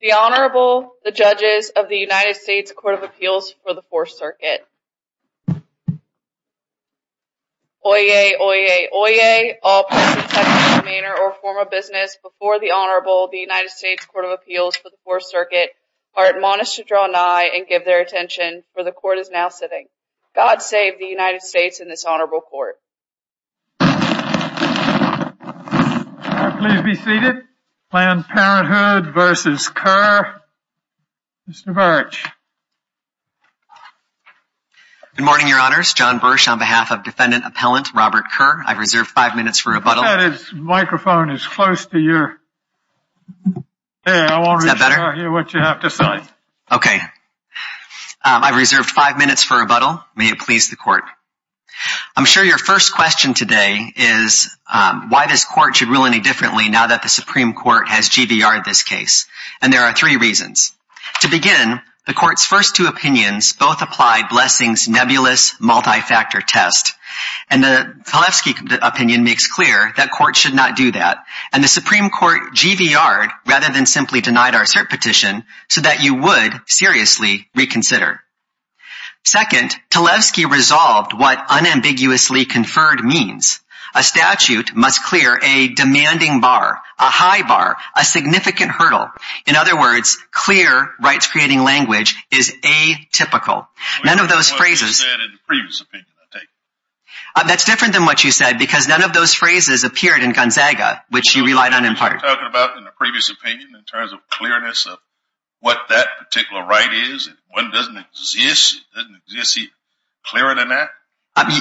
The Honorable, the judges of the United States Court of Appeals for the Fourth Circuit. Oyez, oyez, oyez, all persons subject to demeanor or form of business before the Honorable, the United States Court of Appeals for the Fourth Circuit, are admonished to draw nigh and give their attention, for the court is now sitting. God save the United versus Kerr. Mr. Birch. Good morning, Your Honors. John Birch on behalf of Defendant Appellant Robert Kerr. I've reserved five minutes for rebuttal. That microphone is close to your ear. Is that better? I want to hear what you have to say. Okay. I've reserved five minutes for rebuttal. May it please the court. I'm sure your first question today is why this court should rule any differently now that the Supreme Court has GVR'd this case, and there are three reasons. To begin, the court's first two opinions both applied Blessing's nebulous multi-factor test, and the Talevsky opinion makes clear that court should not do that, and the Supreme Court GVR'd rather than simply denied our cert petition so that you would seriously reconsider. Second, Talevsky resolved what unambiguously conferred means. A statute must clear a demanding bar, a high bar, a significant hurdle. In other words, clear rights-creating language is atypical. None of those phrases... That's different than what you said because none of those phrases appeared in Gonzaga, which you relied on in part.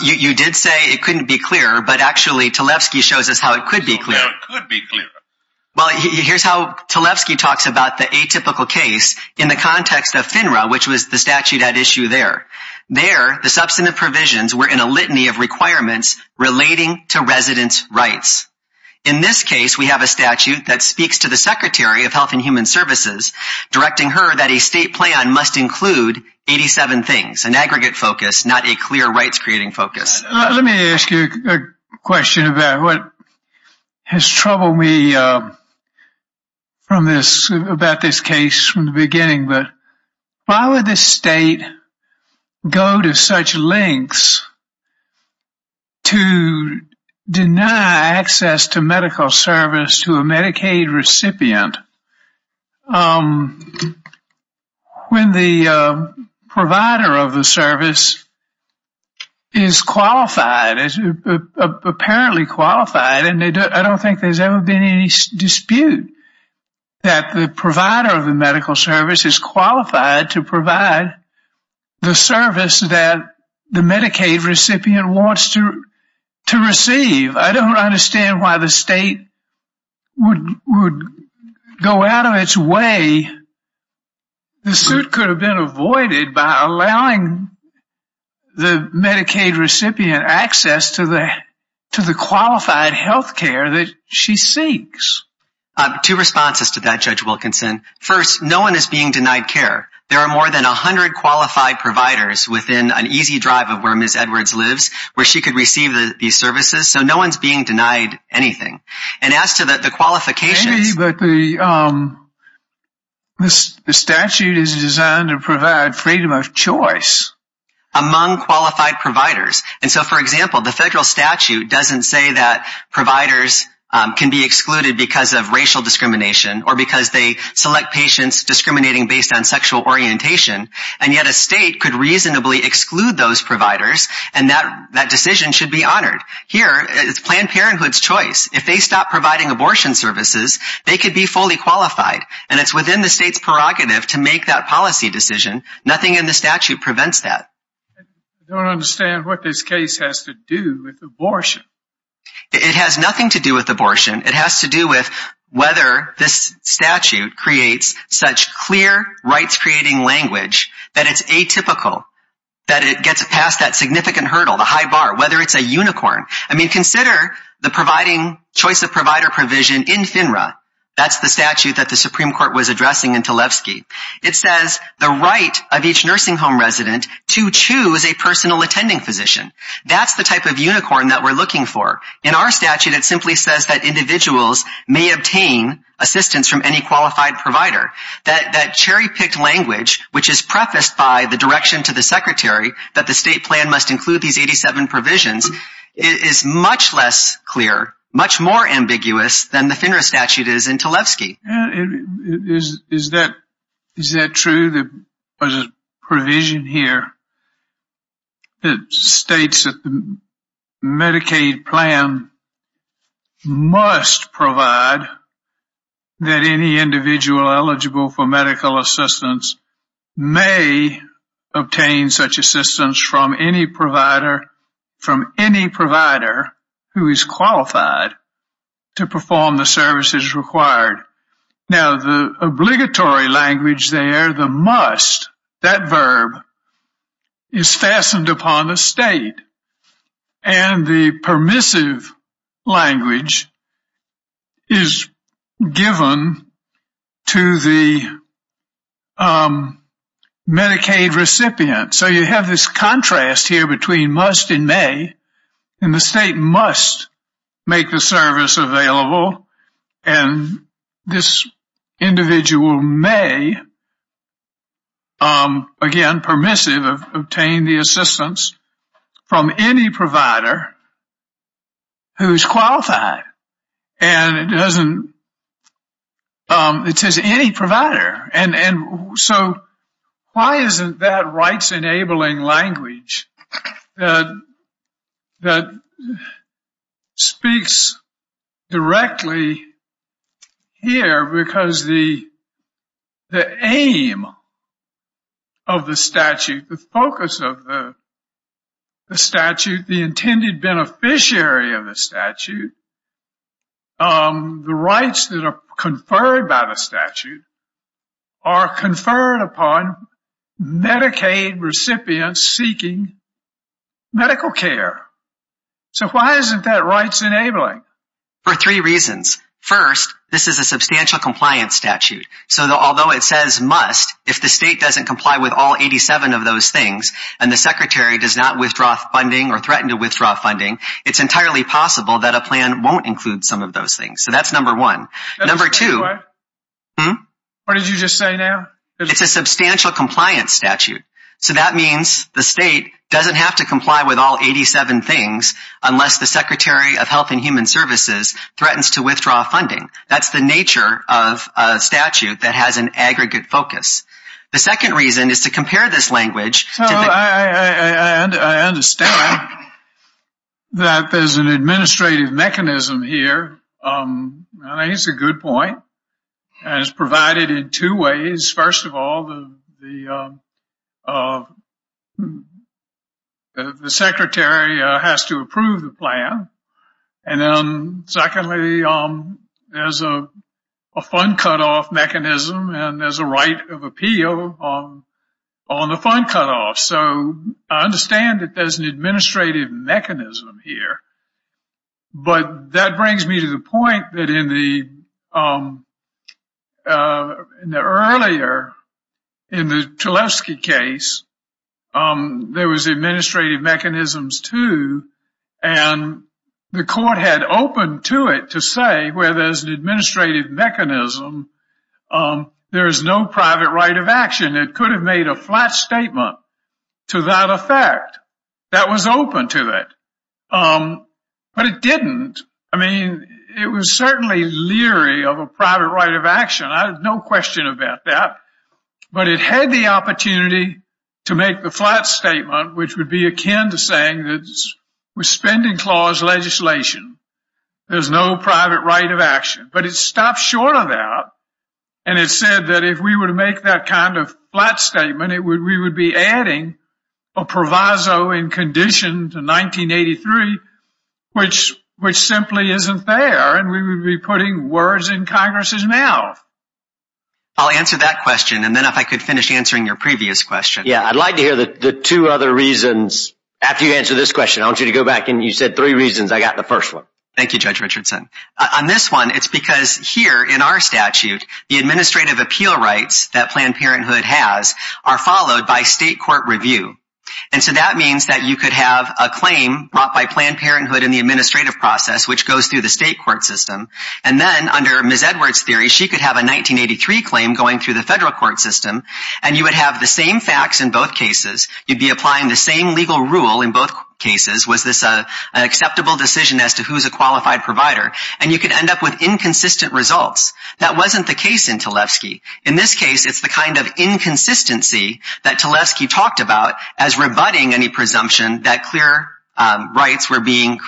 You did say it couldn't be clearer, but actually Talevsky shows us how it could be clear. Well, here's how Talevsky talks about the atypical case in the context of FINRA, which was the statute at issue there. There, the substantive provisions were in a litany of requirements relating to residents' rights. In this case, we have a statute that speaks to the Secretary of Health and Human Services, directing her that a state plan must include 87 things, an aggregate focus, not a clear rights- Let me ask you a question about what has troubled me from this, about this case from the beginning, but why would the state go to such lengths to deny access to medical as apparently qualified, and I don't think there's ever been any dispute that the provider of the medical service is qualified to provide the service that the Medicaid recipient wants to receive. I don't understand why the state would go out of its way. The suit could have been avoided by allowing the Medicaid recipient access to the qualified health care that she seeks. Two responses to that, Judge Wilkinson. First, no one is being denied care. There are more than a hundred qualified providers within an easy drive of where Ms. Edwards lives where she could receive these services, so no one's being denied anything, and as to the qualifications- Maybe, but the statute is designed to provide freedom of choice among qualified providers, and so, for example, the federal statute doesn't say that providers can be excluded because of racial discrimination or because they select patients discriminating based on sexual orientation, and yet a state could reasonably exclude those providers, and that decision should be honored. Here, it's Planned Parenthood's choice. If they stop providing abortion services, they could be fully qualified, and it's the state's prerogative to make that policy decision. Nothing in the statute prevents that. I don't understand what this case has to do with abortion. It has nothing to do with abortion. It has to do with whether this statute creates such clear rights-creating language that it's atypical, that it gets past that significant hurdle, the high bar, whether it's a unicorn. I mean, consider the providing choice of provider provision in FINRA. That's the statute that the addressing in Talevsky. It says the right of each nursing home resident to choose a personal attending physician. That's the type of unicorn that we're looking for. In our statute, it simply says that individuals may obtain assistance from any qualified provider. That cherry-picked language, which is prefaced by the direction to the Secretary that the state plan must include these 87 provisions, is much less clear, much more ambiguous than the Is that true? There was a provision here that states that the Medicaid plan must provide that any individual eligible for medical assistance may obtain such assistance from any provider who is qualified to perform the services required. Now, the obligatory language there, the must, that verb, is fastened upon the state, and the permissive language is given to the Medicaid recipient. So you have this contrast here between must and may, and the state must make the service available, and this individual may, again permissive, obtain the assistance from any provider who is qualified. And it doesn't, it says any speaks directly here because the aim of the statute, the focus of the statute, the intended beneficiary of the statute, the rights that are conferred by the statute are conferred upon Medicaid recipients seeking medical care. So why isn't that rights enabling? For three reasons. First, this is a substantial compliance statute. So although it says must, if the state doesn't comply with all 87 of those things, and the Secretary does not withdraw funding or threaten to withdraw funding, it's entirely possible that a plan won't include some of those things. So that's number one. Number two, what did you just say now? It's a substantial compliance statute. So that means the state doesn't have to comply with all 87 things unless the Secretary of Health and Human Services threatens to withdraw funding. That's the nature of a statute that has an aggregate focus. The second reason is to compare this language. I understand that there's an administrative mechanism here, and it's a good point, and it's provided in two ways. First of all, the Secretary has to approve the plan, and then secondly, there's a fund cutoff mechanism, and there's a right of appeal on the fund cutoff. So I understand that there's an administrative mechanism here, but that in the Tulefsky case, there was administrative mechanisms too, and the court had opened to it to say where there's an administrative mechanism, there is no private right of action. It could have made a flat statement to that effect. That was open to it, but it didn't. I mean, it was certainly leery of a plan, but it had the opportunity to make the flat statement, which would be akin to saying that with spending clause legislation, there's no private right of action. But it stopped short of that, and it said that if we were to make that kind of flat statement, we would be adding a proviso in condition to 1983, which simply isn't there, and we would be putting words in Congress's mouth. I'll answer that question, and then if I could finish answering your previous question. Yeah, I'd like to hear the two other reasons. After you answer this question, I want you to go back and you said three reasons. I got the first one. Thank you, Judge Richardson. On this one, it's because here in our statute, the administrative appeal rights that Planned Parenthood has are followed by state court review, and so that means that you could have a claim brought by Planned Parenthood in the administrative process, which goes through the state court system, and then under Ms. Edwards' theory, she could have a 1983 claim going through the federal court system, and you would have the same facts in both cases. You'd be applying the same legal rule in both cases. Was this an acceptable decision as to who's a qualified provider? And you could end up with inconsistent results. That wasn't the case in Tlefsky. In this case, it's the kind of inconsistency that Tlefsky talked about as rebutting any presumption that clear rights were being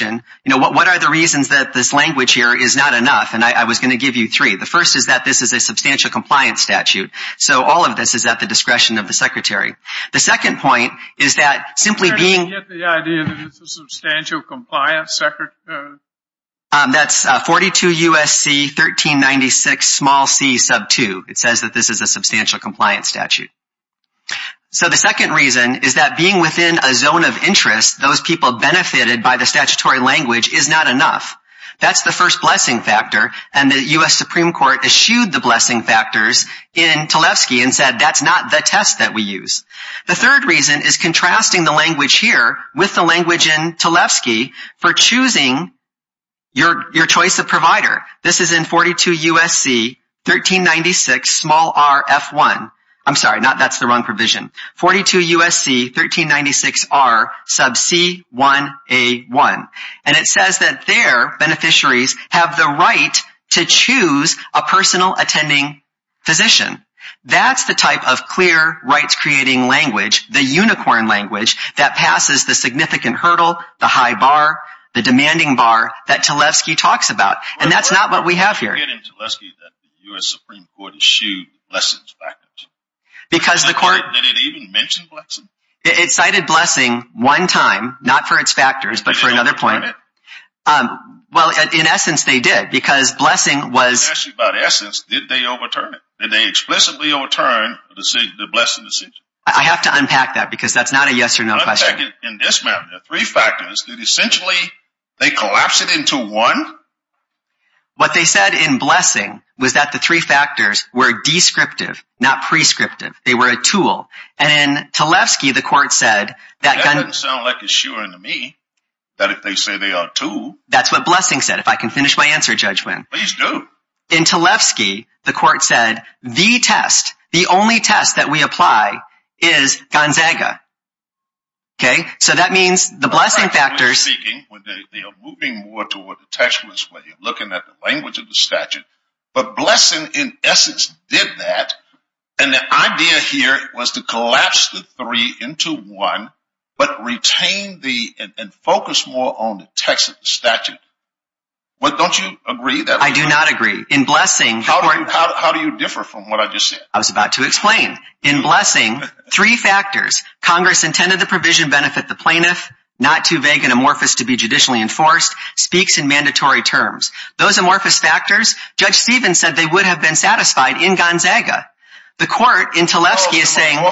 You know, what are the reasons that this language here is not enough? And I was going to give you three. The first is that this is a substantial compliance statute, so all of this is at the discretion of the Secretary. The second point is that simply being... I'm trying to get the idea that it's a substantial compliance statute. That's 42 U.S.C. 1396 small c sub 2. It says that this is a substantial compliance statute. So the second reason is that being within a zone of interest, those people benefited by the statutory language is not enough. That's the first blessing factor, and the U.S. Supreme Court eschewed the blessing factors in Tlefsky and said that's not the test that we use. The third reason is contrasting the language here with the language in Tlefsky for choosing your choice of provider. This is in 42 U.S.C. 1396 small r f1. I'm sorry, that's the wrong provision. 42 U.S.C. 1396 r sub c 1 a 1. And it says that their beneficiaries have the right to choose a personal attending physician. That's the type of clear rights-creating language, the unicorn language, that passes the significant hurdle, the high bar, the demanding bar, that Tlefsky talks about. And that's not what we have here. Because the court cited blessing one time, not for its factors, but for another point. Well, in essence, they did, because blessing was... I'm asking you about essence. Did they overturn it? Did they explicitly overturn the blessing decision? I have to unpack that, because that's not a yes or no question. In this matter, there are three factors. Did essentially they collapse it into one? What they said in blessing was that the three factors were descriptive, not prescriptive. They were a tool. And in Tlefsky, the court said that... That doesn't sound like assuring to me, that if they say they are a tool... That's what blessing said, if I can finish my answer, Judge Wynn. Please do. In Tlefsky, the court said, the test, the only test that we apply is Gonzaga. Okay, so that means the blessing factors... They are moving more toward the textualist way of looking at the language of the statute. But blessing, in essence, did that. And the idea here was to collapse the three into one, but retain the... Don't you agree? I do not agree. In blessing... How do you differ from what I just said? I was about to explain. In blessing, three factors, Congress intended the provision benefit the plaintiff, not too vague and amorphous to be judicially enforced, speaks in mandatory terms. Those amorphous factors, Judge Stephens said they would have been satisfied in Gonzaga. The court in Tlefsky is saying... Who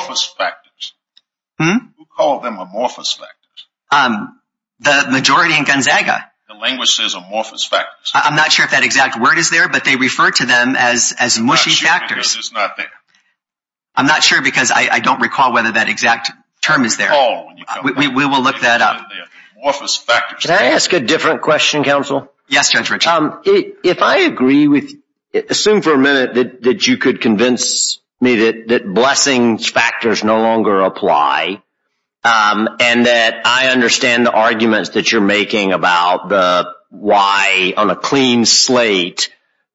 called them amorphous factors? The majority in Gonzaga. The language says amorphous factors. I'm not sure if that exact word is there, but they refer to them as mushy factors. I'm not sure because it's not there. I'm not sure because I don't recall whether that exact term is there. We will look that up. Can I ask a different question, counsel? Yes, Judge Rich. If I agree with... Assume for a minute that you could convince me that blessings factors no longer apply, and that I understand the arguments that you're making about why on a clean slate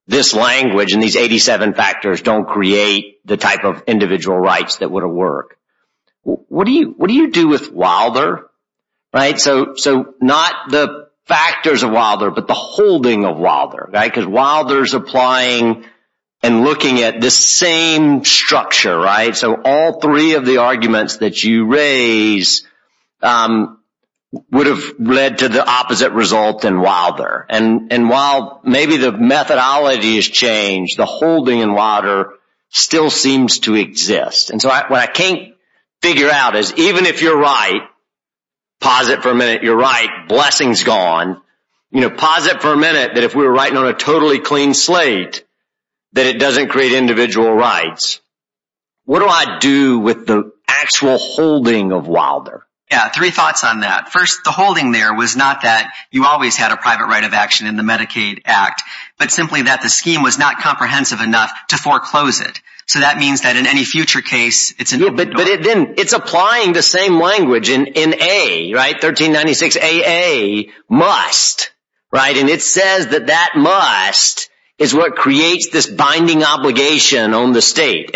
this language and these 87 factors don't create the type of individual rights that would have worked. What do you do with Wilder? Not the factors of Wilder, but the holding of Wilder. Wilder is applying and looking at the same structure. All three of the arguments that you raise would have led to the opposite result in Wilder. While maybe the methodology has changed, the holding in Wilder still seems to exist. What I can't figure out is even if you're right, posit for a minute you're right, blessings gone. Posit for a minute that if we were writing on a totally clean slate, that it doesn't create individual rights. What do I do with the actual holding of Wilder? Yeah, three thoughts on that. First, the holding there was not that you always had a private right of action in the Medicaid Act, but simply that the scheme was not comprehensive enough to foreclose it. So that means that in any future case... It's applying the same language in 1396AA, must. It says that that must is what creates this binding obligation on the state.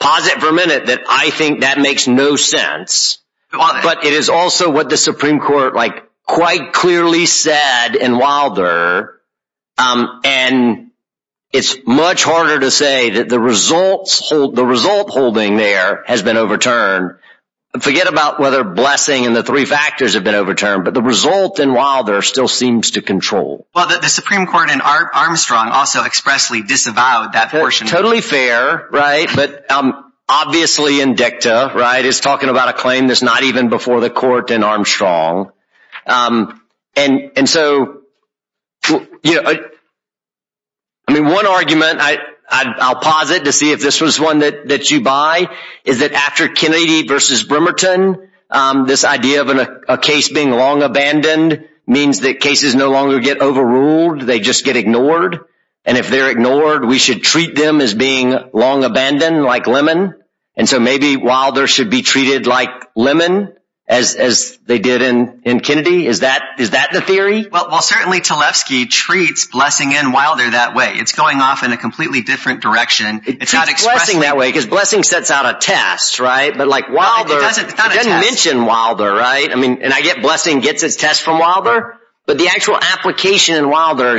Posit for a minute that I think that makes no sense, but it is also what the Supreme Court quite clearly said in Wilder. It's much harder to say that the result holding there has been overturned. Forget about whether blessing and the three factors have been overturned, but the result in Wilder still seems to control. The Supreme Court in Armstrong also expressly disavowed that portion. I mean, totally fair, right? But obviously in dicta, right? It's talking about a claim that's not even before the court in Armstrong. One argument, I'll posit to see if this was one that you buy, is that after Kennedy v. Bremerton, this idea of a case being long abandoned means that cases no longer get overruled, they just get ignored. And if they're ignored, we should treat them as being long abandoned, like lemon. And so maybe Wilder should be treated like lemon, as they did in Kennedy. Is that the theory? Well, certainly, Tlefsky treats blessing in Wilder that way. It's going off in a completely different direction. It's not expressing that way, because blessing sets out a test, right? But Wilder doesn't mention Wilder, right? And I get blessing gets its test from Wilder, but the actual application in Wilder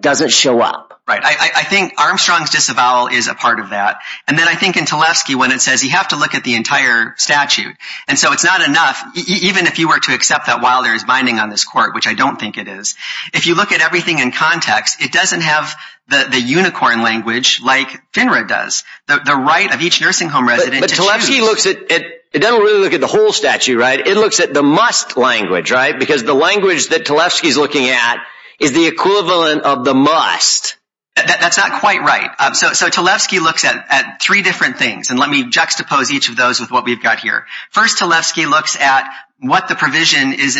doesn't show up. Right. I think Armstrong's disavowal is a part of that. And then I think in Tlefsky, when it says you have to look at the entire statute, and so it's not enough, even if you were to accept that Wilder is binding on this court, which I don't think it is. If you look at everything in context, it doesn't have the unicorn language like FINRA does, the right of each nursing home resident to choose. But Tlefsky doesn't really look at the whole statute, right? It looks at the must language, right? Because the language that Tlefsky is looking at is the equivalent of the must. That's not quite right. So Tlefsky looks at three different things, and let me juxtapose each of those with what we've got here. First, Tlefsky looks at what the provision is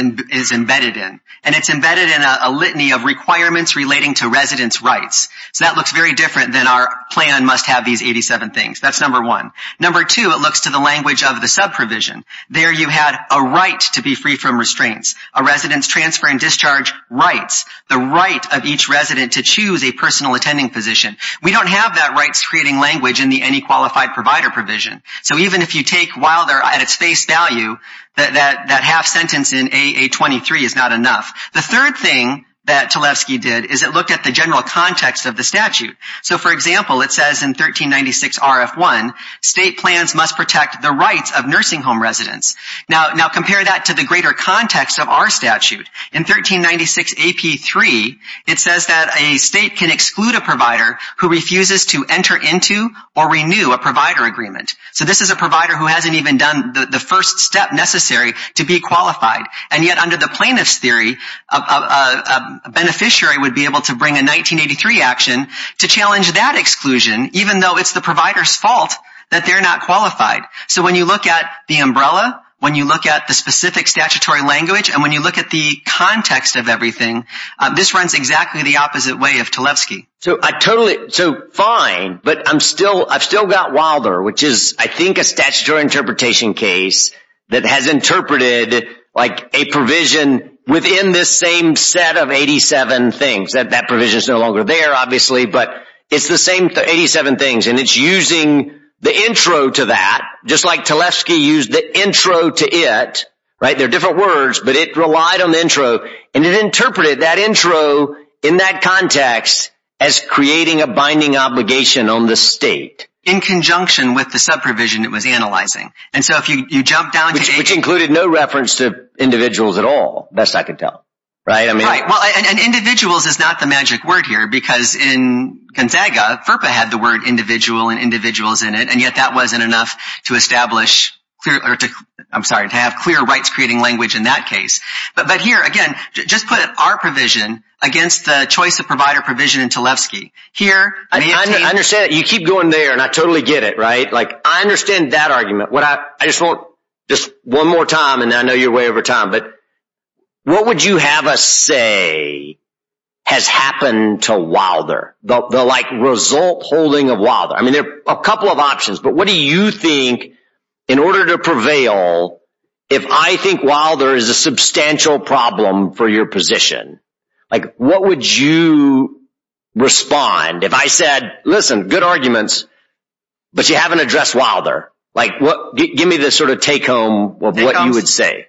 embedded in, and it's embedded in a litany of requirements relating to residents' rights. So that looks very different than our plan must have these 87 things. That's number one. Number two, it looks to the language of the subprovision. There you had a right to be free from restraints, a resident's transfer and discharge rights, the right of each resident to choose a personal attending position. We don't have that rights-creating language in the Any Qualified Provider provision. So even if you take Wilder at its face value, that half sentence in AA23 is not enough. The third thing that Tlefsky did is it looked at the general context of the statute. So, for example, it says in 1396 RF1, state plans must protect the rights of nursing home residents. Now compare that to the greater context of our statute. In 1396 AP3, it says that a state can exclude a provider who refuses to enter into or renew a provider agreement. So this is a provider who hasn't even done the first step necessary to be qualified. And yet under the plaintiff's theory, a beneficiary would be able to bring a 1983 action to challenge that exclusion, even though it's the provider's fault that they're not qualified. So when you look at the umbrella, when you look at the specific statutory language, and when you look at the context of everything, this runs exactly the opposite way of Tlefsky. So I totally, so fine, but I'm still, I've still got Wilder, which is, I think, a statutory interpretation case that has interpreted like a provision within this same set of 87 things. That provision is no longer there, obviously, but it's the same 87 things. And it's using the intro to that, just like Tlefsky used the intro to it, right? They're different words, but it relied on the intro. And it interpreted that intro in that context as creating a binding obligation on the state. In conjunction with the subprovision it was analyzing. Which included no reference to individuals at all, best I can tell. And individuals is not the magic word here, because in Contaga, FERPA had the word individual and individuals in it. And yet that wasn't enough to establish, I'm sorry, to have clear rights creating language in that case. But here, again, just put our provision against the choice of provider provision in Tlefsky. I understand that. You keep going there and I totally get it, right? Like, I understand that argument. I just want, just one more time, and I know you're way over time, but what would you have us say has happened to Wilder? The, like, result holding of Wilder? I mean, there are a couple of options, but what do you think, in order to prevail, if I think Wilder is a substantial problem for your position? Like, what would you respond if I said, listen, good arguments, but you haven't addressed Wilder? Like, give me the sort of take home of what you would say.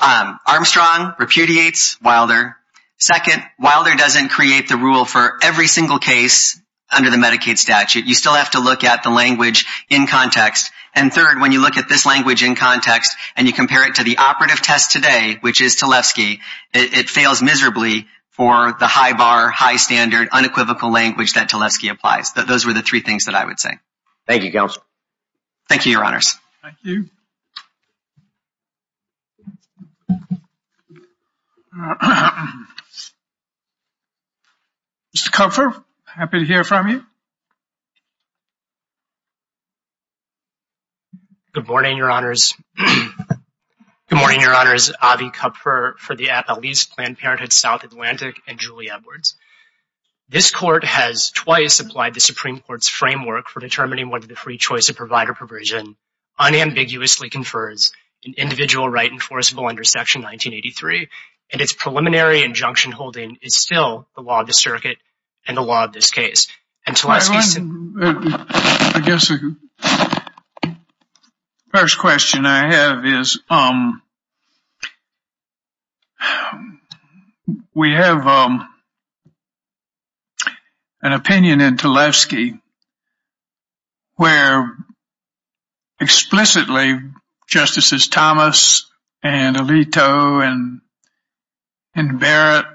Armstrong repudiates Wilder. Second, Wilder doesn't create the rule for every single case under the Medicaid statute. You still have to look at the language in context. And third, when you look at this language in context and you compare it to the operative test today, which is Tlefsky, it fails miserably for the high bar, high standard, unequivocal language that Tlefsky applies. Those were the three things that I would say. Thank you, Counselor. Thank you, Your Honors. Thank you. Mr. Kupfer, happy to hear from you. Good morning, Your Honors. Good morning, Your Honors. Avi Kupfer for the Appellees, Planned Parenthood, South Atlantic, and Julie Edwards. This Court has twice applied the Supreme Court's framework for determining whether the free choice of provider provision unambiguously confers an individual right enforceable under Section 1983, and its preliminary injunction holding is still the law of the circuit and the law of this case. I guess the first question I have is we have an opinion in Tlefsky where explicitly Justices Thomas and Alito and Barrett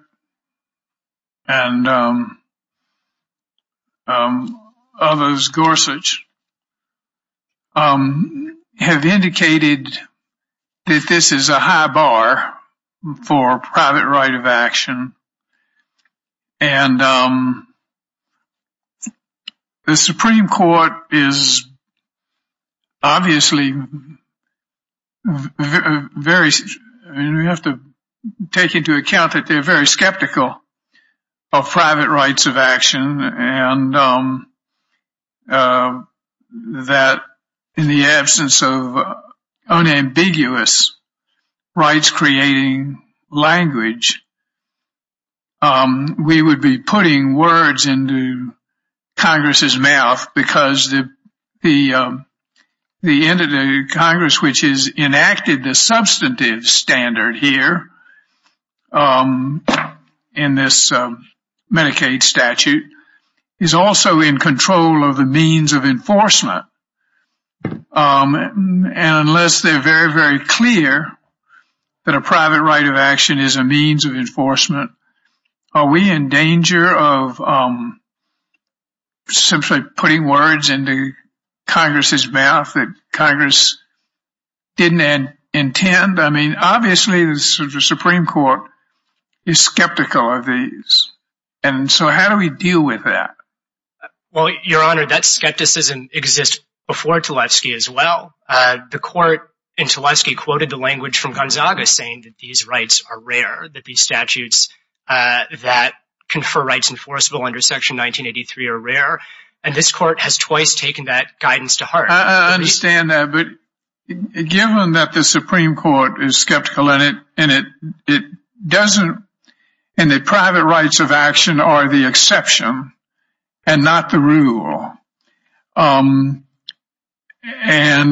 and others, Gorsuch, have indicated that this is a high bar for private right of action. And the Supreme Court is obviously very, and we have to take into account that they're very skeptical of private rights of action and that in the absence of unambiguous rights creating language, we would be putting words into Congress's mouth because the end of the Congress which has enacted the substantive standard here in this Medicaid statute is also in control of the means of enforcement. And unless they're very, very clear that a private right of action is a means of enforcement, are we in danger of simply putting words into Congress's mouth that Congress didn't intend? I mean, obviously, the Supreme Court is skeptical of these. And so how do we deal with that? Well, Your Honor, that skepticism exists before Tlefsky as well. The court in Tlefsky quoted the language from Gonzaga saying that these rights are rare, that these statutes that confer rights enforceable under Section 1983 are rare. And this court has twice taken that guidance to heart. I understand that. But given that the Supreme Court is skeptical in it, and the private rights of action are the exception and not the rule, and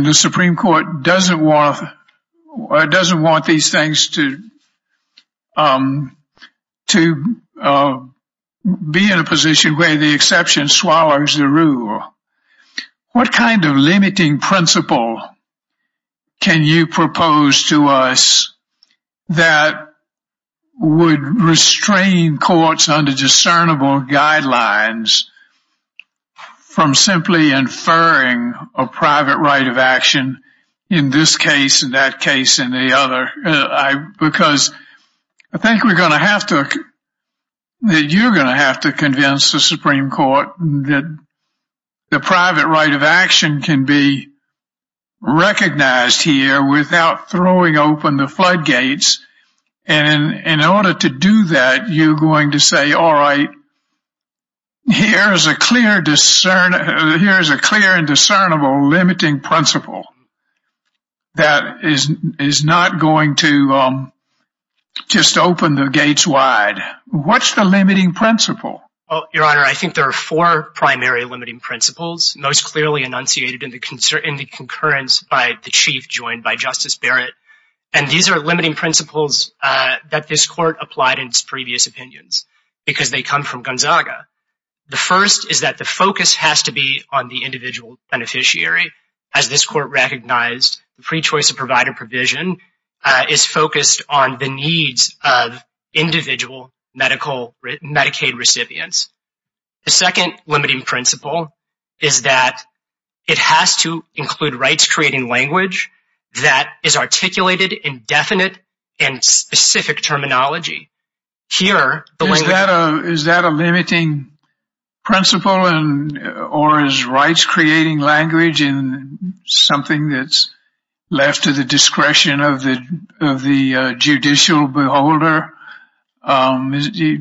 the Supreme Court doesn't want these things to be in a position where the exception swallows the rule. What kind of limiting principle can you propose to us that would restrain courts under discernible guidelines from simply inferring a private right of action in this case and that case and the other? Because I think we're going to have to, that you're going to have to convince the Supreme Court that the private right of action can be recognized here without throwing open the floodgates. And in order to do that, you're going to say, all right, here is a clear and discernible limiting principle that is not going to just open the gates wide. What's the limiting principle? Well, Your Honor, I think there are four primary limiting principles most clearly enunciated in the concurrence by the Chief, joined by Justice Barrett. And these are limiting principles that this court applied in its previous opinions because they come from Gonzaga. The first is that the focus has to be on the individual beneficiary. As this court recognized, the free choice of provider provision is focused on the needs of individual Medicaid recipients. The second limiting principle is that it has to include rights-creating language that is articulated in definite and specific terminology. Is that a limiting principle or is rights-creating language something that's left to the discretion of the judicial beholder? Is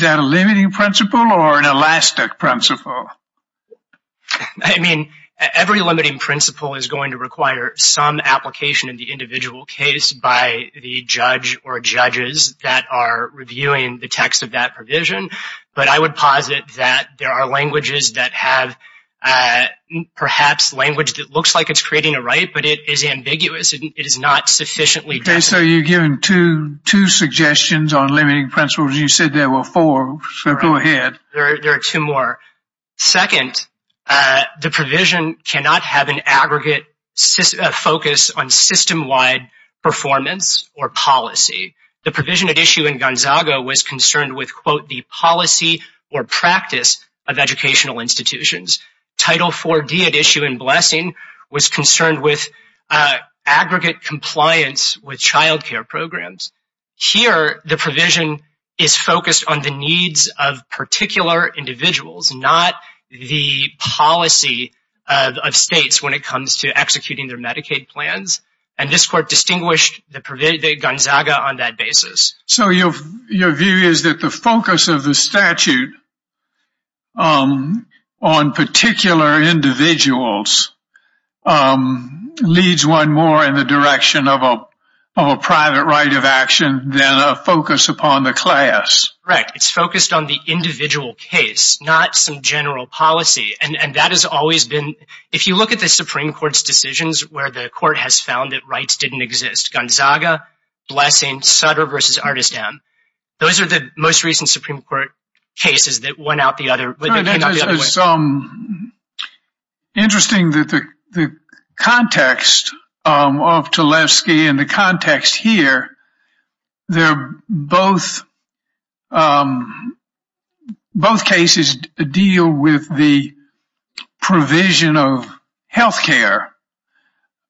that a limiting principle or an elastic principle? I mean, every limiting principle is going to require some application in the individual case by the judge or judges that are reviewing the text of that provision. But I would posit that there are languages that have perhaps language that looks like it's creating a right, but it is ambiguous. It is not sufficiently definite. So you're giving two suggestions on limiting principles. You said there were four, so go ahead. There are two more. Second, the provision cannot have an aggregate focus on system-wide performance or policy. The provision at issue in Gonzaga was concerned with, quote, the policy or practice of educational institutions. Title IV-D at issue in Blessing was concerned with aggregate compliance with child care programs. Here, the provision is focused on the needs of particular individuals, not the policy of states when it comes to executing their Medicaid plans. And this court distinguished the Gonzaga on that basis. So your view is that the focus of the statute on particular individuals leads one more in the direction of a private right of action than a focus upon the class. Correct. It's focused on the individual case, not some general policy. And that has always been, if you look at the Supreme Court's decisions where the court has found that rights didn't exist, Gonzaga, Blessing, Sutter versus Artist M. Those are the most recent Supreme Court cases that went out the other way. It's interesting that the context of Tulefsky and the context here, they're both, both cases deal with the provision of health care.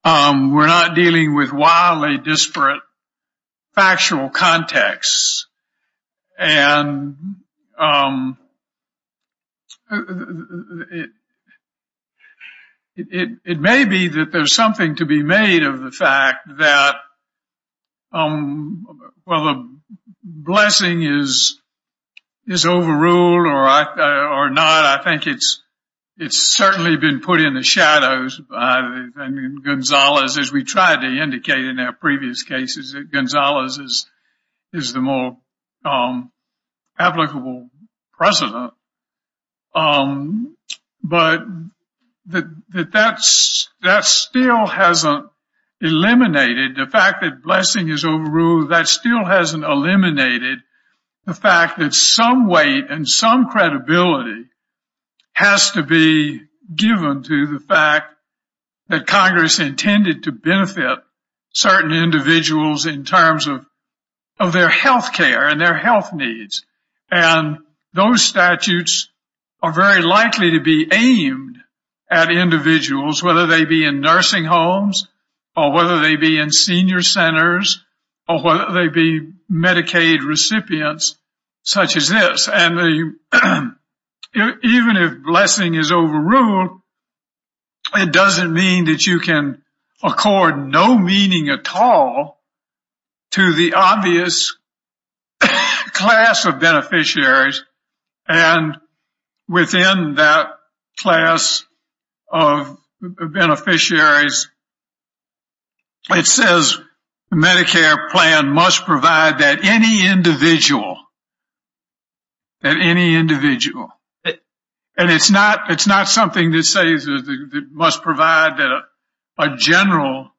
We're not dealing with wildly disparate factual contexts. And it may be that there's something to be made of the fact that, well, the Blessing is overruled or not. I think it's certainly been put in the shadows. And Gonzaga, as we tried to indicate in our previous cases, Gonzaga is the more applicable precedent. But that still hasn't eliminated the fact that Blessing is overruled. That still hasn't eliminated the fact that some weight and some credibility has to be given to the fact that Congress intended to benefit certain individuals in terms of their health care and their health needs. And those statutes are very likely to be aimed at individuals, whether they be in nursing homes or whether they be in senior centers or whether they be Medicaid recipients such as this. And even if Blessing is overruled, it doesn't mean that you can accord no meaning at all to the obvious class of beneficiaries. And within that class of beneficiaries, it says Medicare plan must provide that any individual, that any individual. And it's not, it's not something that says it must provide that a general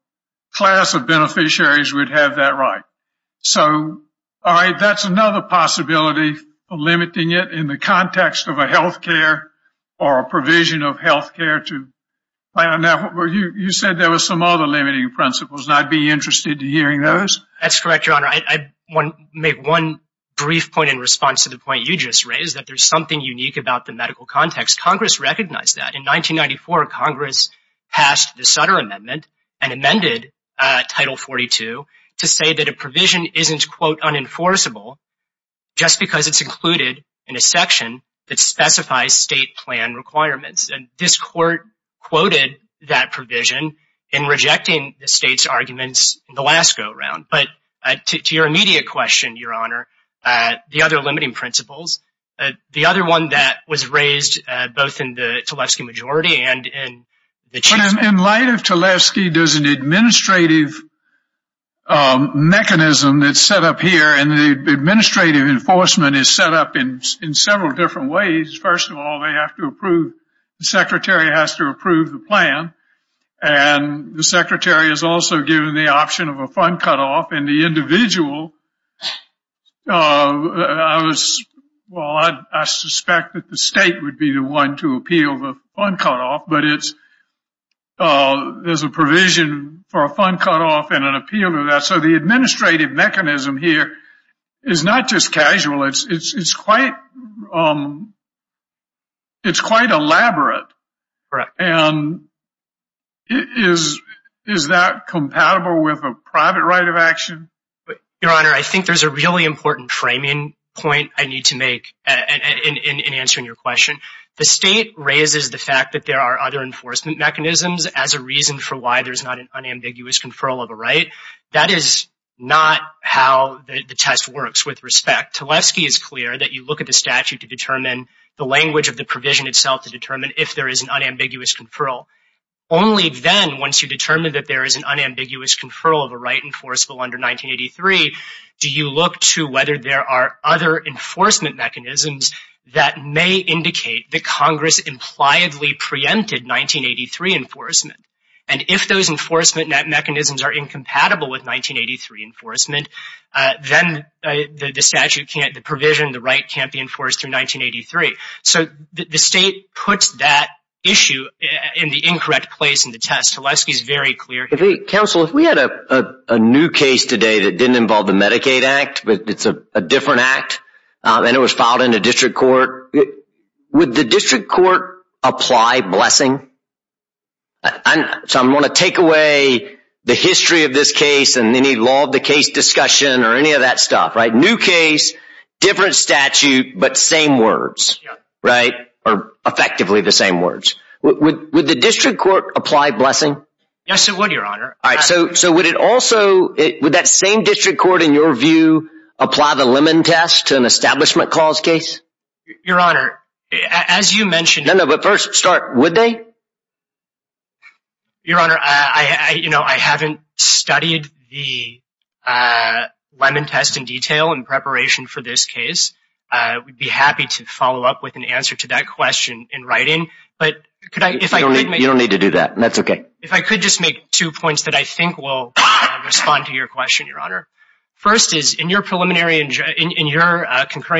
class of beneficiaries would have that right. So, all right, that's another possibility of limiting it in the context of a health care or a provision of health care to plan. You said there was some other limiting principles, and I'd be interested in hearing those. That's correct, Your Honor. I want to make one brief point in response to the point you just raised, that there's something unique about the medical context. Congress recognized that. In 1994, Congress passed the Sutter Amendment and amended Title 42 to say that a provision isn't, quote, unenforceable just because it's included in a section that specifies state plan requirements. And this court quoted that provision in rejecting the state's arguments in the last go around. But to your immediate question, Your Honor, the other limiting principles, the other one that was raised both in the Tlaibski majority and in the Chiefs. In light of Tlaibski, there's an administrative mechanism that's set up here, and the administrative enforcement is set up in several different ways. First of all, they have to approve, the secretary has to approve the plan. And the secretary is also given the option of a fund cutoff, and the individual, I was, well, I suspect that the state would be the one to appeal the fund cutoff. But it's, there's a provision for a fund cutoff and an appeal to that. So the administrative mechanism here is not just casual, it's quite elaborate. And is that compatible with a private right of action? Your Honor, I think there's a really important framing point I need to make in answering your question. The state raises the fact that there are other enforcement mechanisms as a reason for why there's not an unambiguous conferral of a right. That is not how the test works, with respect. Tlaibski is clear that you look at the statute to determine the language of the provision itself to determine if there is an unambiguous conferral. Only then, once you determine that there is an unambiguous conferral of a right enforceable under 1983, do you look to whether there are other enforcement mechanisms that may indicate that Congress impliedly preempted 1983 enforcement. And if those enforcement mechanisms are incompatible with 1983 enforcement, then the statute can't, the provision, the right can't be enforced through 1983. So the state puts that issue in the incorrect place in the test. Tlaibski is very clear here. Counsel, if we had a new case today that didn't involve the Medicaid Act, but it's a different act, and it was filed in a district court, would the district court apply blessing? So I'm going to take away the history of this case and any law of the case discussion or any of that stuff, right? New case, different statute, but same words, right? Or effectively the same words. Would the district court apply blessing? Yes, it would, Your Honor. So would it also, would that same district court, in your view, apply the Lemon test to an establishment clause case? Your Honor, as you mentioned... No, no, but first start, would they? Your Honor, I haven't studied the Lemon test in detail in preparation for this case. I would be happy to follow up with an answer to that question in writing. You don't need to do that. That's okay. If I could just make two points that I think will respond to your question, Your Honor. First is, in your concurring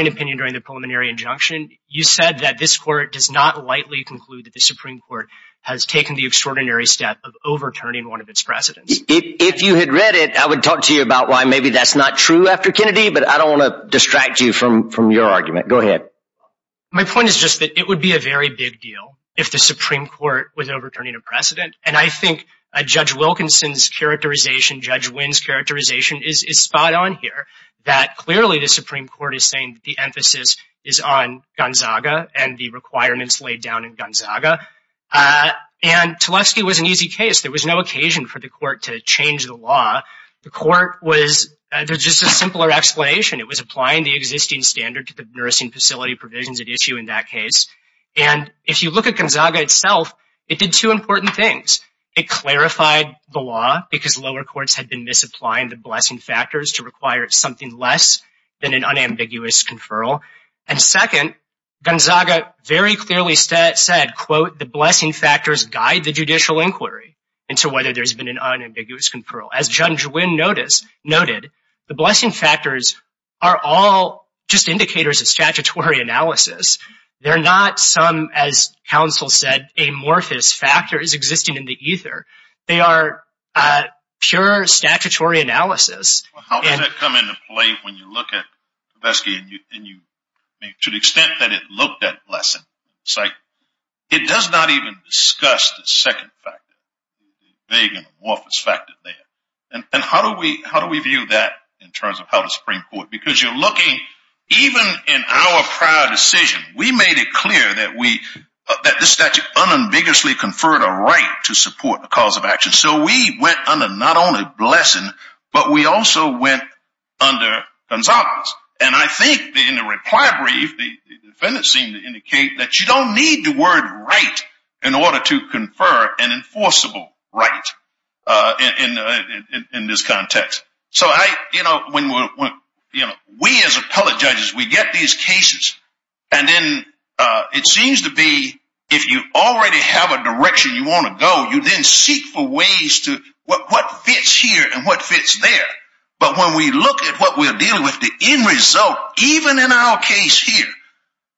opinion during the preliminary injunction, you said that this court does not lightly conclude that the Supreme Court has taken the extraordinary step of overturning one of its precedents. If you had read it, I would talk to you about why maybe that's not true after Kennedy, but I don't want to distract you from your argument. Go ahead. My point is just that it would be a very big deal if the Supreme Court was overturning a precedent. And I think Judge Wilkinson's characterization, Judge Wynn's characterization is spot on here, that clearly the Supreme Court is saying that the emphasis is on Gonzaga and the requirements laid down in Gonzaga. And Tlefsky was an easy case. There was no occasion for the court to change the law. The court was, there's just a simpler explanation. It was applying the existing standard to the nursing facility provisions at issue in that case. And if you look at Gonzaga itself, it did two important things. It clarified the law because lower courts had been misapplying the blessing factors to require something less than an unambiguous conferral. And second, Gonzaga very clearly said, quote, the blessing factors guide the judicial inquiry into whether there's been an unambiguous conferral. And Judge Wynn noted, the blessing factors are all just indicators of statutory analysis. They're not some, as counsel said, amorphous factors existing in the ether. They are pure statutory analysis. How does that come into play when you look at Tlefsky and you, to the extent that it looked at blessing, it's like, it does not even discuss the second factor, the big amorphous factor there. And how do we view that in terms of how the Supreme Court, because you're looking, even in our prior decision, we made it clear that this statute unambiguously conferred a right to support a cause of action. So we went under not only blessing, but we also went under Gonzaga's. And I think in the reply brief, the defendant seemed to indicate that you don't need the word right in order to confer an enforceable right in this context. So I, you know, when we, you know, we as appellate judges, we get these cases and then it seems to be, if you already have a direction you want to go, you then seek for ways to, what fits here and what fits there. But when we look at what we're dealing with, the end result, even in our case here,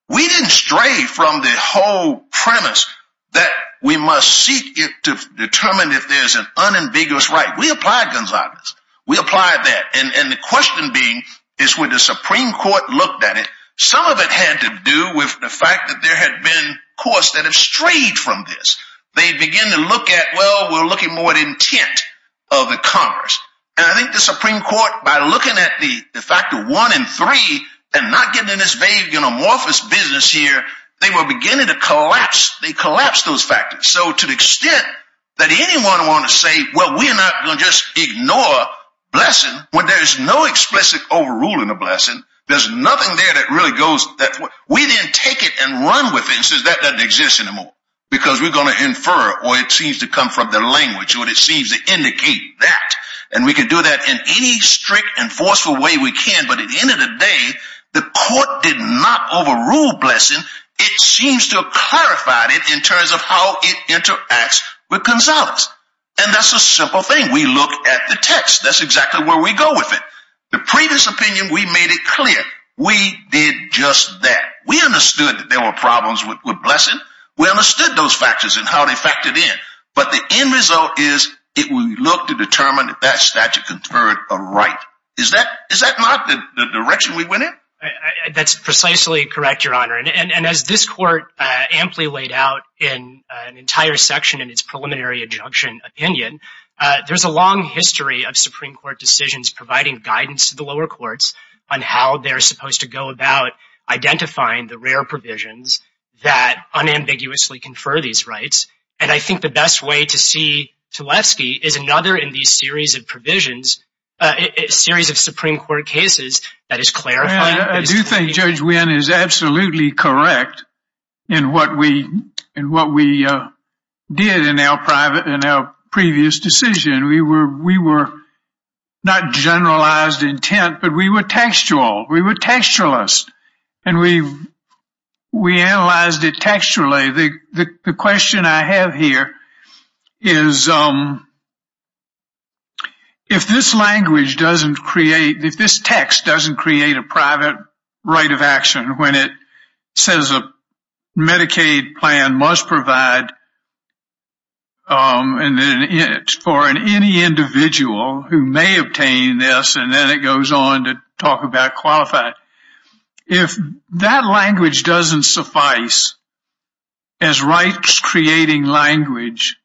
we didn't stray from the whole premise that we must seek it to determine if there's an unambiguous right. We applied Gonzaga's. We applied that. And the question being, is when the Supreme Court looked at it, some of it had to do with the fact that there had been courts that have strayed from this. They begin to look at, well, we're looking more at intent of the Congress. And I think the Supreme Court, by looking at the factor one and three and not getting in this vague and amorphous business here, they were beginning to collapse. They collapsed those factors. So to the extent that anyone want to say, well, we're not going to just ignore blessing when there's no explicit overruling of blessing. There's nothing there that really goes, we didn't take it and run with it and says that doesn't exist anymore because we're going to infer or it seems to come from the language or it seems to indicate that. And we can do that in any strict and forceful way we can. But at the end of the day, the court did not overrule blessing. It seems to have clarified it in terms of how it interacts with Gonzaga's. And that's a simple thing. We look at the text. That's exactly where we go with it. The previous opinion, we made it clear. We did just that. We understood that there were problems with blessing. We understood those factors and how they factored in. But the end result is it will look to determine if that statute conferred a right. Is that not the direction we went in? That's precisely correct, Your Honor. And as this court amply laid out in an entire section in its preliminary injunction opinion, there's a long history of Supreme Court decisions providing guidance to the lower courts on how they're supposed to go about identifying the rare provisions that unambiguously confer these rights. And I think the best way to see Tulefsky is another in these series of provisions, a series of Supreme Court cases that is clarifying. I do think Judge Wynn is absolutely correct in what we did in our previous decision. We were not generalized intent, but we were textual. We were textualist. And we analyzed it textually. The question I have here is if this language doesn't create, if this text doesn't create a private right of action when it says a Medicaid plan must provide for any individual who may obtain this, and then it goes on to talk about qualified. If that language doesn't suffice as rights creating language,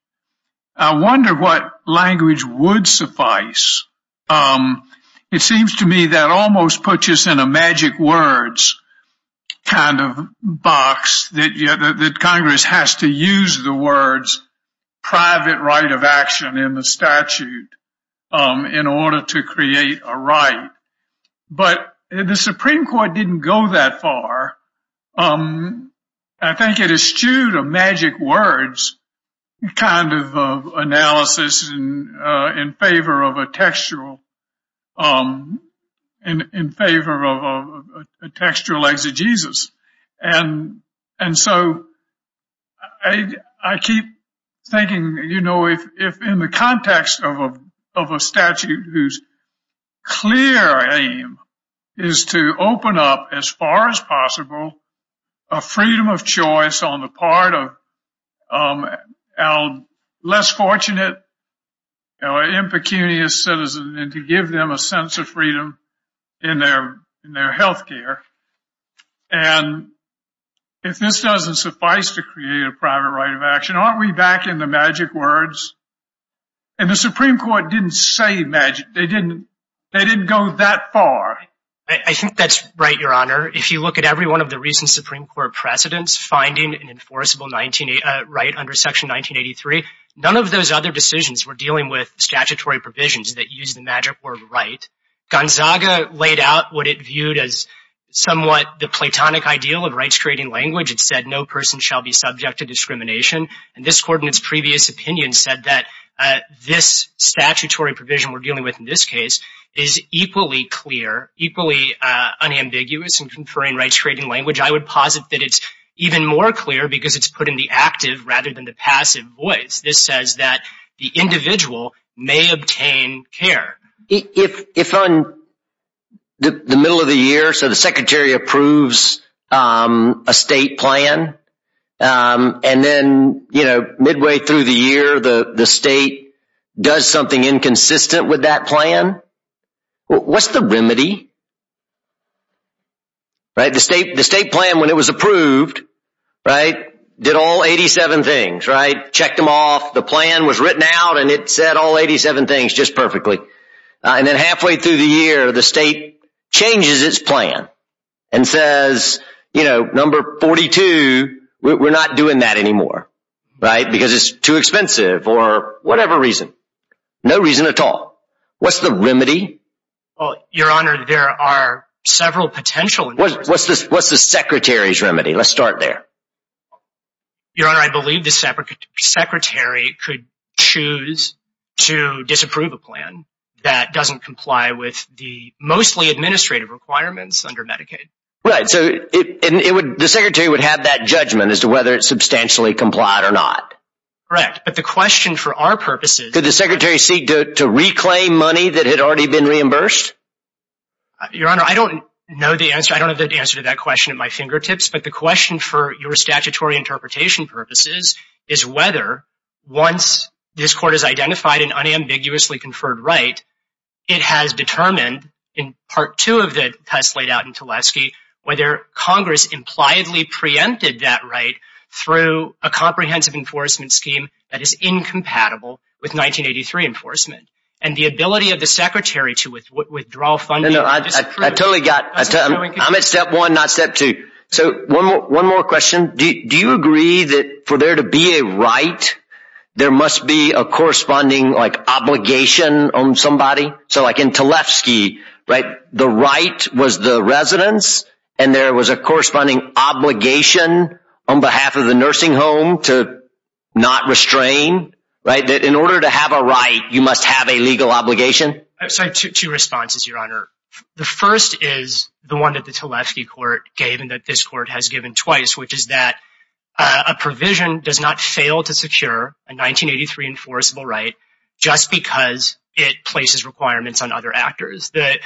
I wonder what language would suffice. It seems to me that almost puts us in a magic words kind of box that Congress has to use the words private right of action in the statute in order to create a right. But the Supreme Court didn't go that far. I think it eschewed a magic words kind of analysis in favor of a textual, in favor of a textual exegesis. And so I keep thinking, you know, if in the context of a statute whose clear aim is to open up as far as possible a freedom of choice on the part of our less fortunate, our impecunious citizen and to give them a sense of freedom in their health care. And if this doesn't suffice to create a private right of action, aren't we back in the magic words? And the Supreme Court didn't say magic. They didn't, they didn't go that far. I think that's right, Your Honor. If you look at every one of the recent Supreme Court precedents, finding an enforceable right under Section 1983, none of those other decisions were dealing with statutory provisions that use the magic word right. Gonzaga laid out what it viewed as somewhat the platonic ideal of rights-creating language. It said no person shall be subject to discrimination. And this Court in its previous opinion said that this statutory provision we're dealing with in this case is equally clear, equally unambiguous in conferring rights-creating language. I would posit that it's even more clear because it's put in the active rather than the passive voice. This says that the individual may obtain care. If on the middle of the year, so the Secretary approves a state plan, and then, you know, midway through the year, the state does something inconsistent with that plan, what's the remedy? Right. The state, the state plan, when it was approved, right, did all 87 things, right? Checked them off. The plan was written out and it said all 87 things just perfectly. And then halfway through the year, the state changes its plan and says, you know, number 42, we're not doing that anymore, right? Because it's too expensive or whatever reason. No reason at all. What's the remedy? Well, Your Honor, there are several potential. What's the Secretary's remedy? Let's start there. Your Honor, I believe the Secretary could choose to disapprove a plan that doesn't comply with the mostly administrative requirements under Medicaid. Right. So it would, the Secretary would have that judgment as to whether it's substantially complied or not. Correct. But the question for our purposes. Could the Secretary seek to reclaim money that had already been reimbursed? Your Honor, I don't know the answer. I don't have the answer to that question at my fingertips. But the question for your statutory interpretation purposes is whether, once this Court has identified an unambiguously conferred right, it has determined in Part 2 of the test laid out in Tulesky, whether Congress impliedly preempted that right through a comprehensive enforcement scheme that is incompatible with 1983 enforcement. And the ability of the Secretary to withdraw funding. I totally got it. I'm at Step 1, not Step 2. So one more question. Do you agree that for there to be a right, there must be a corresponding obligation on somebody? So like in Tulesky, right, the right was the residence and there was a corresponding obligation on behalf of the nursing home to not restrain. Right. In order to have a right, you must have a legal obligation. I have two responses, Your Honor. The first is the one that the Tulesky Court gave and that this Court has given twice, which is that a provision does not fail to secure a 1983 enforceable right just because it places requirements on other actors. The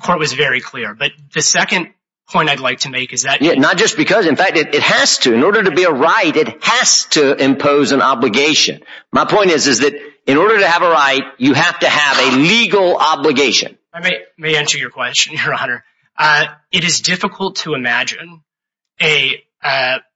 Court was very clear. But the second point I'd like to make is that… Not just because. In fact, it has to. In order to be a right, it has to impose an obligation. My point is that in order to have a right, you have to have a legal obligation. I may answer your question, Your Honor. It is difficult to imagine a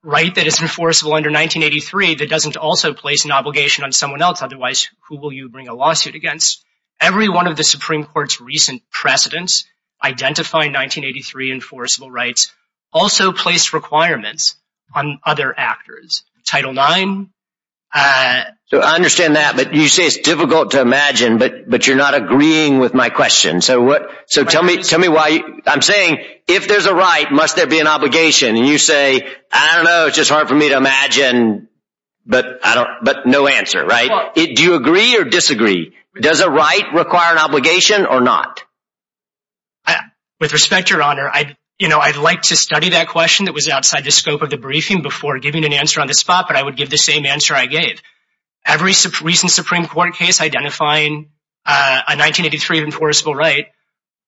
right that is enforceable under 1983 that doesn't also place an obligation on someone else. Otherwise, who will you bring a lawsuit against? Every one of the Supreme Court's recent precedents identifying 1983 enforceable rights also placed requirements on other actors. Title IX… I understand that, but you say it's difficult to imagine, but you're not agreeing with my question. I'm saying, if there's a right, must there be an obligation? And you say, I don't know, it's just hard for me to imagine, but no answer, right? Do you agree or disagree? Does a right require an obligation or not? With respect, Your Honor, I'd like to study that question that was outside the scope of the briefing before giving an answer on the spot, but I would give the same answer I gave. Every recent Supreme Court case identifying a 1983 enforceable right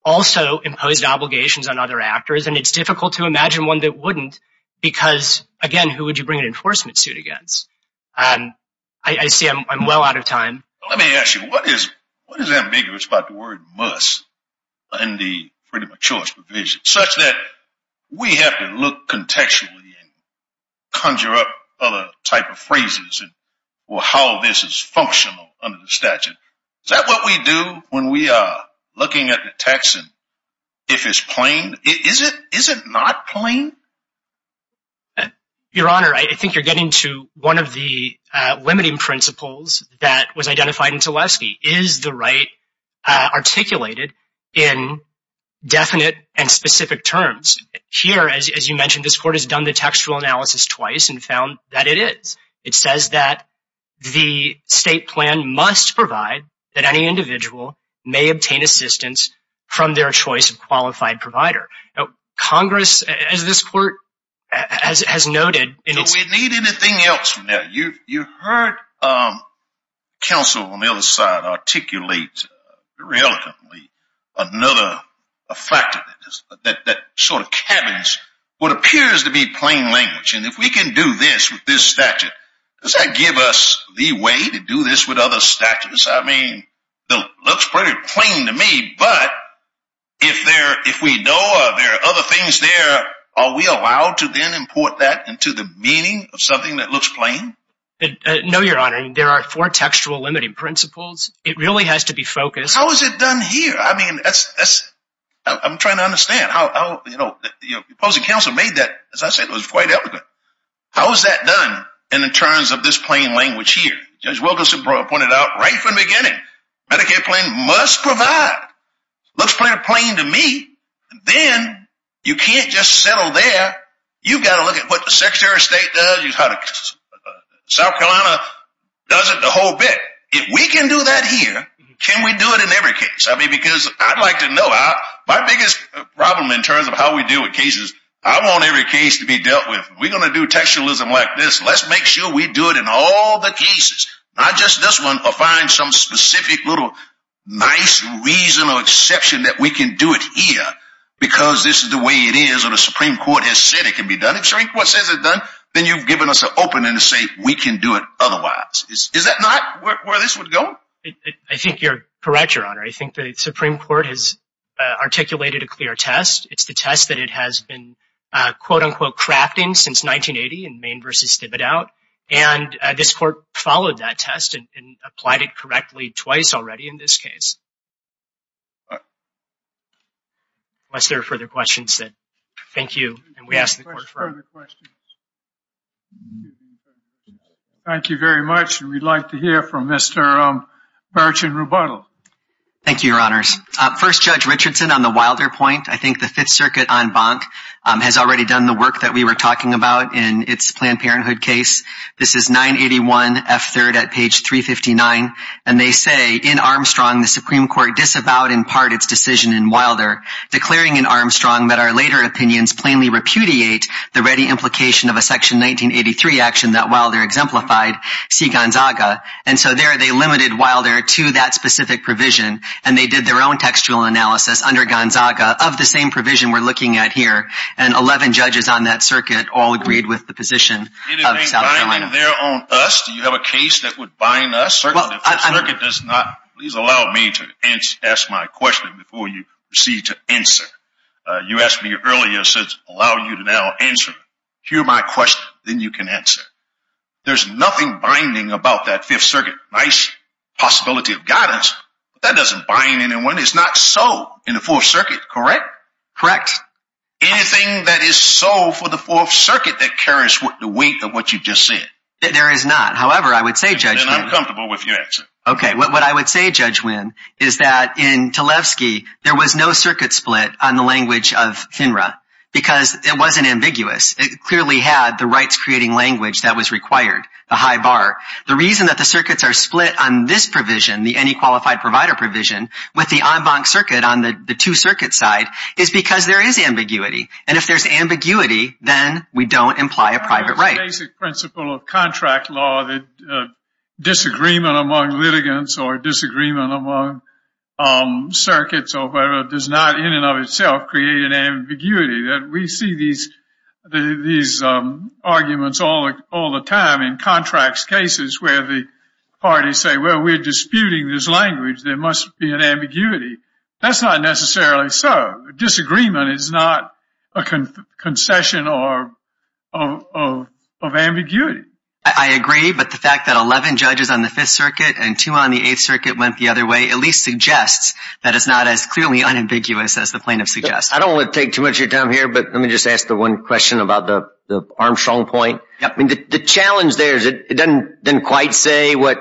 also imposed obligations on other actors, and it's difficult to imagine one that wouldn't because, again, who would you bring an enforcement suit against? I see I'm well out of time. Let me ask you, what is ambiguous about the word must in the Freedom of Choice provision such that we have to look contextually and conjure up other type of phrases or how this is functional under the statute? Is that what we do when we are looking at the text and if it's plain? Is it not plain? Your Honor, I think you're getting to one of the limiting principles that was identified in Tleskey. Is the right articulated in definite and specific terms? Here, as you mentioned, this Court has done the textual analysis twice and found that it is. It says that the state plan must provide that any individual may obtain assistance from their choice of qualified provider. Congress, as this Court has noted… You heard counsel on the other side articulate another factor that sort of cabins what appears to be plain language, and if we can do this with this statute, does that give us the way to do this with other statutes? It looks pretty plain to me, but if we know there are other things there, are we allowed to then import that into the meaning of something that looks plain? No, Your Honor. There are four textual limiting principles. It really has to be focused… How is it done here? I'm trying to understand. Your opposing counsel made that, as I said, it was quite eloquent. How is that done in terms of this plain language here? Judge Wilkinson pointed out right from the beginning. Medicaid plan must provide. It looks pretty plain to me. Then, you can't just settle there. You've got to look at what the Secretary of State does, how South Carolina does it, the whole bit. If we can do that here, can we do it in every case? I'd like to know. My biggest problem in terms of how we deal with cases, I want every case to be dealt with. We're going to do textualism like this. Let's make sure we do it in all the cases, not just this one, or find some specific little nice reason or exception that we can do it here because this is the way it is or the Supreme Court has said it can be done. If the Supreme Court says it's done, then you've given us an opening to say we can do it otherwise. Is that not where this would go? I think you're correct, Your Honor. I think the Supreme Court has articulated a clear test. It's the test that it has been, quote-unquote, crafting since 1980 in Maine v. Stibbitt Out. This court followed that test and applied it correctly twice already in this case. Unless there are further questions. Thank you. Thank you very much. We'd like to hear from Mr. Burch and Rebuttal. Thank you, Your Honors. First, Judge Richardson on the Wilder point. I think the Fifth Circuit en banc has already done the work that we were talking about in its Planned Parenthood case. This is 981 F. 3rd at page 359. And they say, in Armstrong, the Supreme Court disavowed in part its decision in Wilder, declaring in Armstrong that our later opinions plainly repudiate the ready implication of a Section 1983 action that Wilder exemplified, see Gonzaga. And so there they limited Wilder to that specific provision and they did their own textual analysis under Gonzaga of the same provision we're looking at here. And 11 judges on that circuit all agreed with the position of South Carolina. Do you have a case that would bind us? The Fifth Circuit does not. Please allow me to ask my question before you proceed to answer. You asked me earlier, so allow you to now answer. Hear my question, then you can answer. There's nothing binding about that Fifth Circuit. Nice possibility of guidance, but that doesn't bind anyone. It's not so in the Fourth Circuit, correct? Correct. Anything that is so for the Fourth Circuit that carries the weight of what you just said? There is not. However, I would say, Judge Wynne. Then I'm comfortable with your answer. Okay. What I would say, Judge Wynne, is that in Talevsky, there was no circuit split on the language of FINRA because it wasn't ambiguous. It clearly had the rights-creating language that was required, the high bar. The reason that the circuits are split on this provision, the Any Qualified Provider provision, with the en banc circuit on the two-circuit side, is because there is ambiguity. And if there's ambiguity, then we don't imply a private right. The basic principle of contract law, the disagreement among litigants or disagreement among circuits or whatever, does not in and of itself create an ambiguity. We see these arguments all the time in contracts cases where the parties say, well, we're disputing this language. There must be an ambiguity. That's not necessarily so. Disagreement is not a concession of ambiguity. I agree, but the fact that 11 judges on the Fifth Circuit and two on the Eighth Circuit went the other way at least suggests that it's not as clearly unambiguous as the plaintiff suggests. I don't want to take too much of your time here, but let me just ask the one question about the Armstrong point. The challenge there is it doesn't quite say what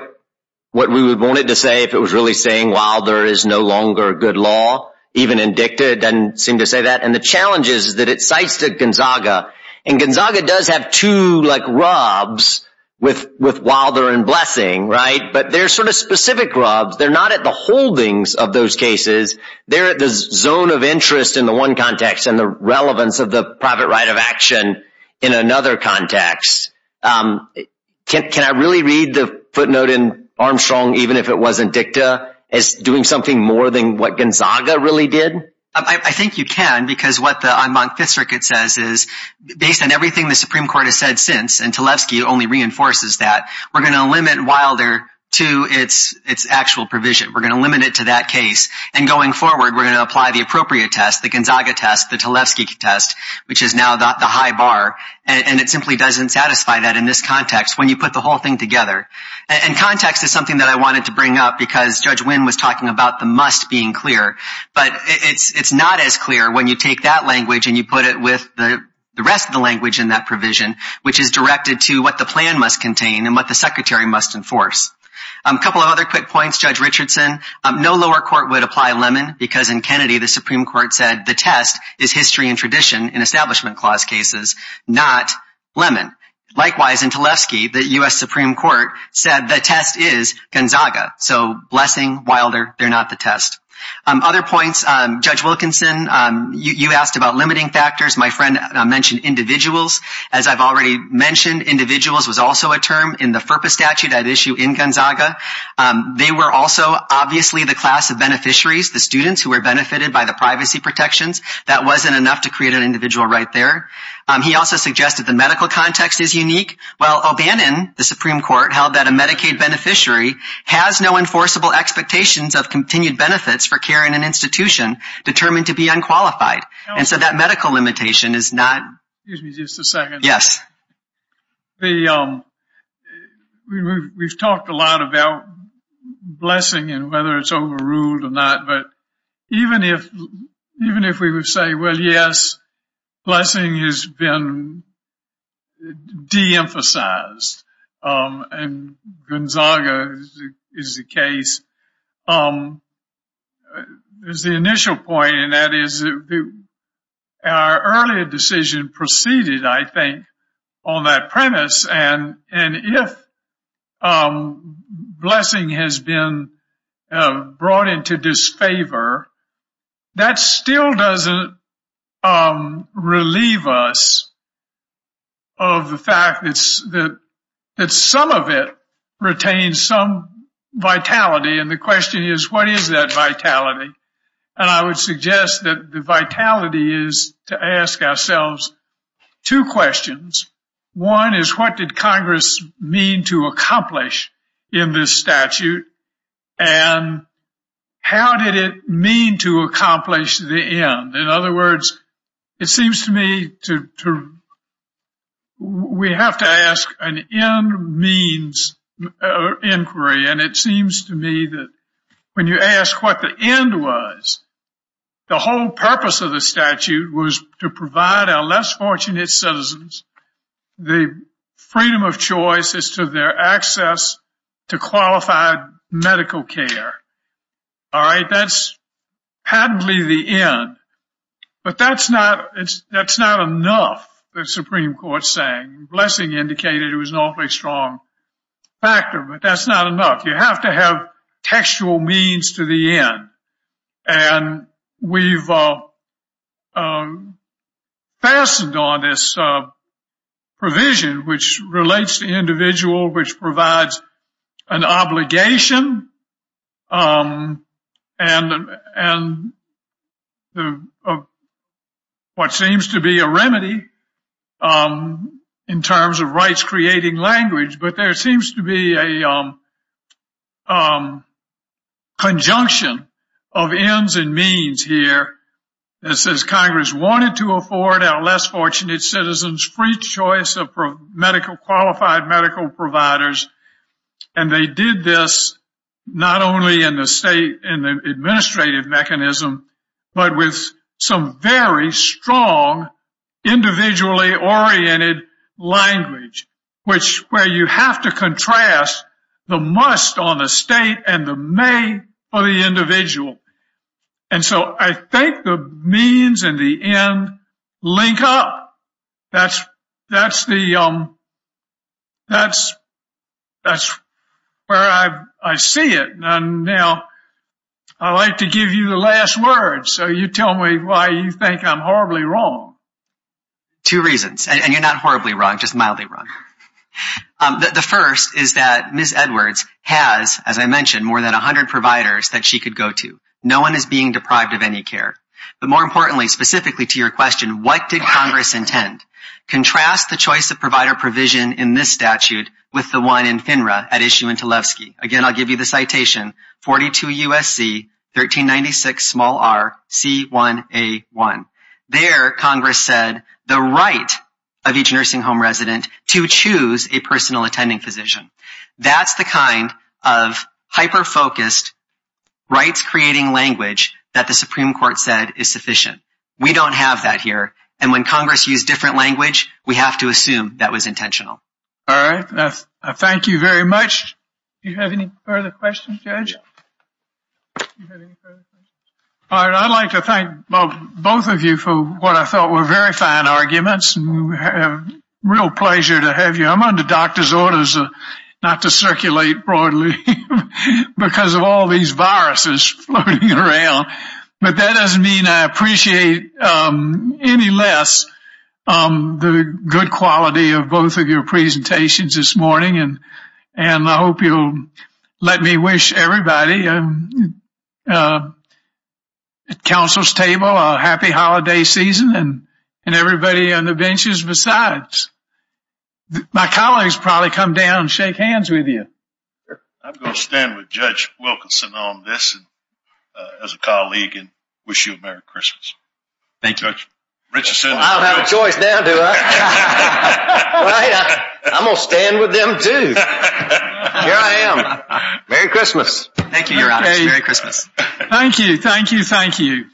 we would want it to say if it was really saying Wilder is no longer a good law, even in dicta, it doesn't seem to say that. And the challenge is that it cites the Gonzaga. And Gonzaga does have two, like, rubs with Wilder and Blessing, right? But they're sort of specific rubs. They're not at the holdings of those cases. They're at the zone of interest in the one context and the relevance of the private right of action in another context. Can I really read the footnote in Armstrong, even if it wasn't dicta, as doing something more than what Gonzaga really did? I think you can, because what the Fifth Circuit says is based on everything the Supreme Court has said since, and Talevsky only reinforces that, we're going to limit Wilder to its actual provision. We're going to limit it to that case. And going forward, we're going to apply the appropriate test, the Gonzaga test, the Talevsky test, which is now the high bar. And it simply doesn't satisfy that in this context when you put the whole thing together. And context is something that I wanted to bring up because Judge Wynn was talking about the must being clear. But it's not as clear when you take that language and you put it with the rest of the language in that provision, which is directed to what the plan must contain and what the Secretary must enforce. A couple of other quick points, Judge Richardson. No lower court would apply Lemon because in Kennedy, the Supreme Court said the test is history and tradition in Establishment Clause cases, not Lemon. Likewise, in Talevsky, the U.S. Supreme Court said the test is Gonzaga. So Blessing, Wilder, they're not the test. Other points, Judge Wilkinson, you asked about limiting factors. My friend mentioned individuals. As I've already mentioned, individuals was also a term in the FERPA statute at issue in Gonzaga. They were also obviously the class of beneficiaries, the students who were benefited by the privacy protections. That wasn't enough to create an individual right there. He also suggested the medical context is unique. Well, O'Bannon, the Supreme Court held that a Medicaid beneficiary has no enforceable expectations of continued benefits for care in an institution determined to be unqualified. And so that medical limitation is not. Excuse me just a second. Yes. We've talked a lot about Blessing and whether it's overruled or not. But even if even if we would say, well, yes, Blessing has been de-emphasized and Gonzaga is the case. There's the initial point and that is our earlier decision proceeded, I think, on that premise. And if Blessing has been brought into disfavor, that still doesn't relieve us of the fact that some of it retains some vitality. The question is, what is that vitality? And I would suggest that the vitality is to ask ourselves two questions. One is, what did Congress mean to accomplish in this statute? And how did it mean to accomplish the end? In other words, it seems to me to we have to ask an end means inquiry. And it seems to me that when you ask what the end was, the whole purpose of the statute was to provide our less fortunate citizens the freedom of choice as to their access to qualified medical care. All right. That's patently the end. But that's not that's not enough. The Supreme Court saying Blessing indicated it was an awfully strong factor. But that's not enough. You have to have textual means to the end. And we've fastened on this provision, which relates to the individual, which provides an obligation and what seems to be a remedy in terms of rights creating language. But there seems to be a conjunction of ends and means here that says Congress wanted to afford our less fortunate citizens free choice of medical qualified medical providers. And they did this not only in the state and the administrative mechanism, but with some very strong individually oriented language, which where you have to contrast the must on the state and the may for the individual. And so I think the means and the end link up. That's that's the that's that's where I see it. Now, I like to give you the last word. So you tell me why you think I'm horribly wrong. Two reasons, and you're not horribly wrong, just mildly wrong. The first is that Miss Edwards has, as I mentioned, more than 100 providers that she could go to. No one is being deprived of any care. But more importantly, specifically to your question, what did Congress intend? Contrast the choice of provider provision in this statute with the one in FINRA at issue into Levski. Again, I'll give you the citation. Forty two U.S.C. 1396 small r c 1 a 1. There, Congress said the right of each nursing home resident to choose a personal attending physician. That's the kind of hyper focused rights creating language that the Supreme Court said is sufficient. We don't have that here. And when Congress use different language, we have to assume that was intentional. All right. Thank you very much. You have any further questions? Judge. I'd like to thank both of you for what I thought were very fine arguments. And we have real pleasure to have you. I'm under doctor's orders not to circulate broadly because of all these viruses floating around. But that doesn't mean I appreciate any less the good quality of both of your presentations this morning. And I hope you'll let me wish everybody at council's table a happy holiday season and everybody on the benches. Besides, my colleagues probably come down and shake hands with you. I'm going to stand with Judge Wilkinson on this as a colleague and wish you a Merry Christmas. Thank you. Richardson. I don't have a choice now, do I? I'm going to stand with them, too. Here I am. Merry Christmas. Thank you, Your Honor. Merry Christmas. Thank you. Thank you. Thank you.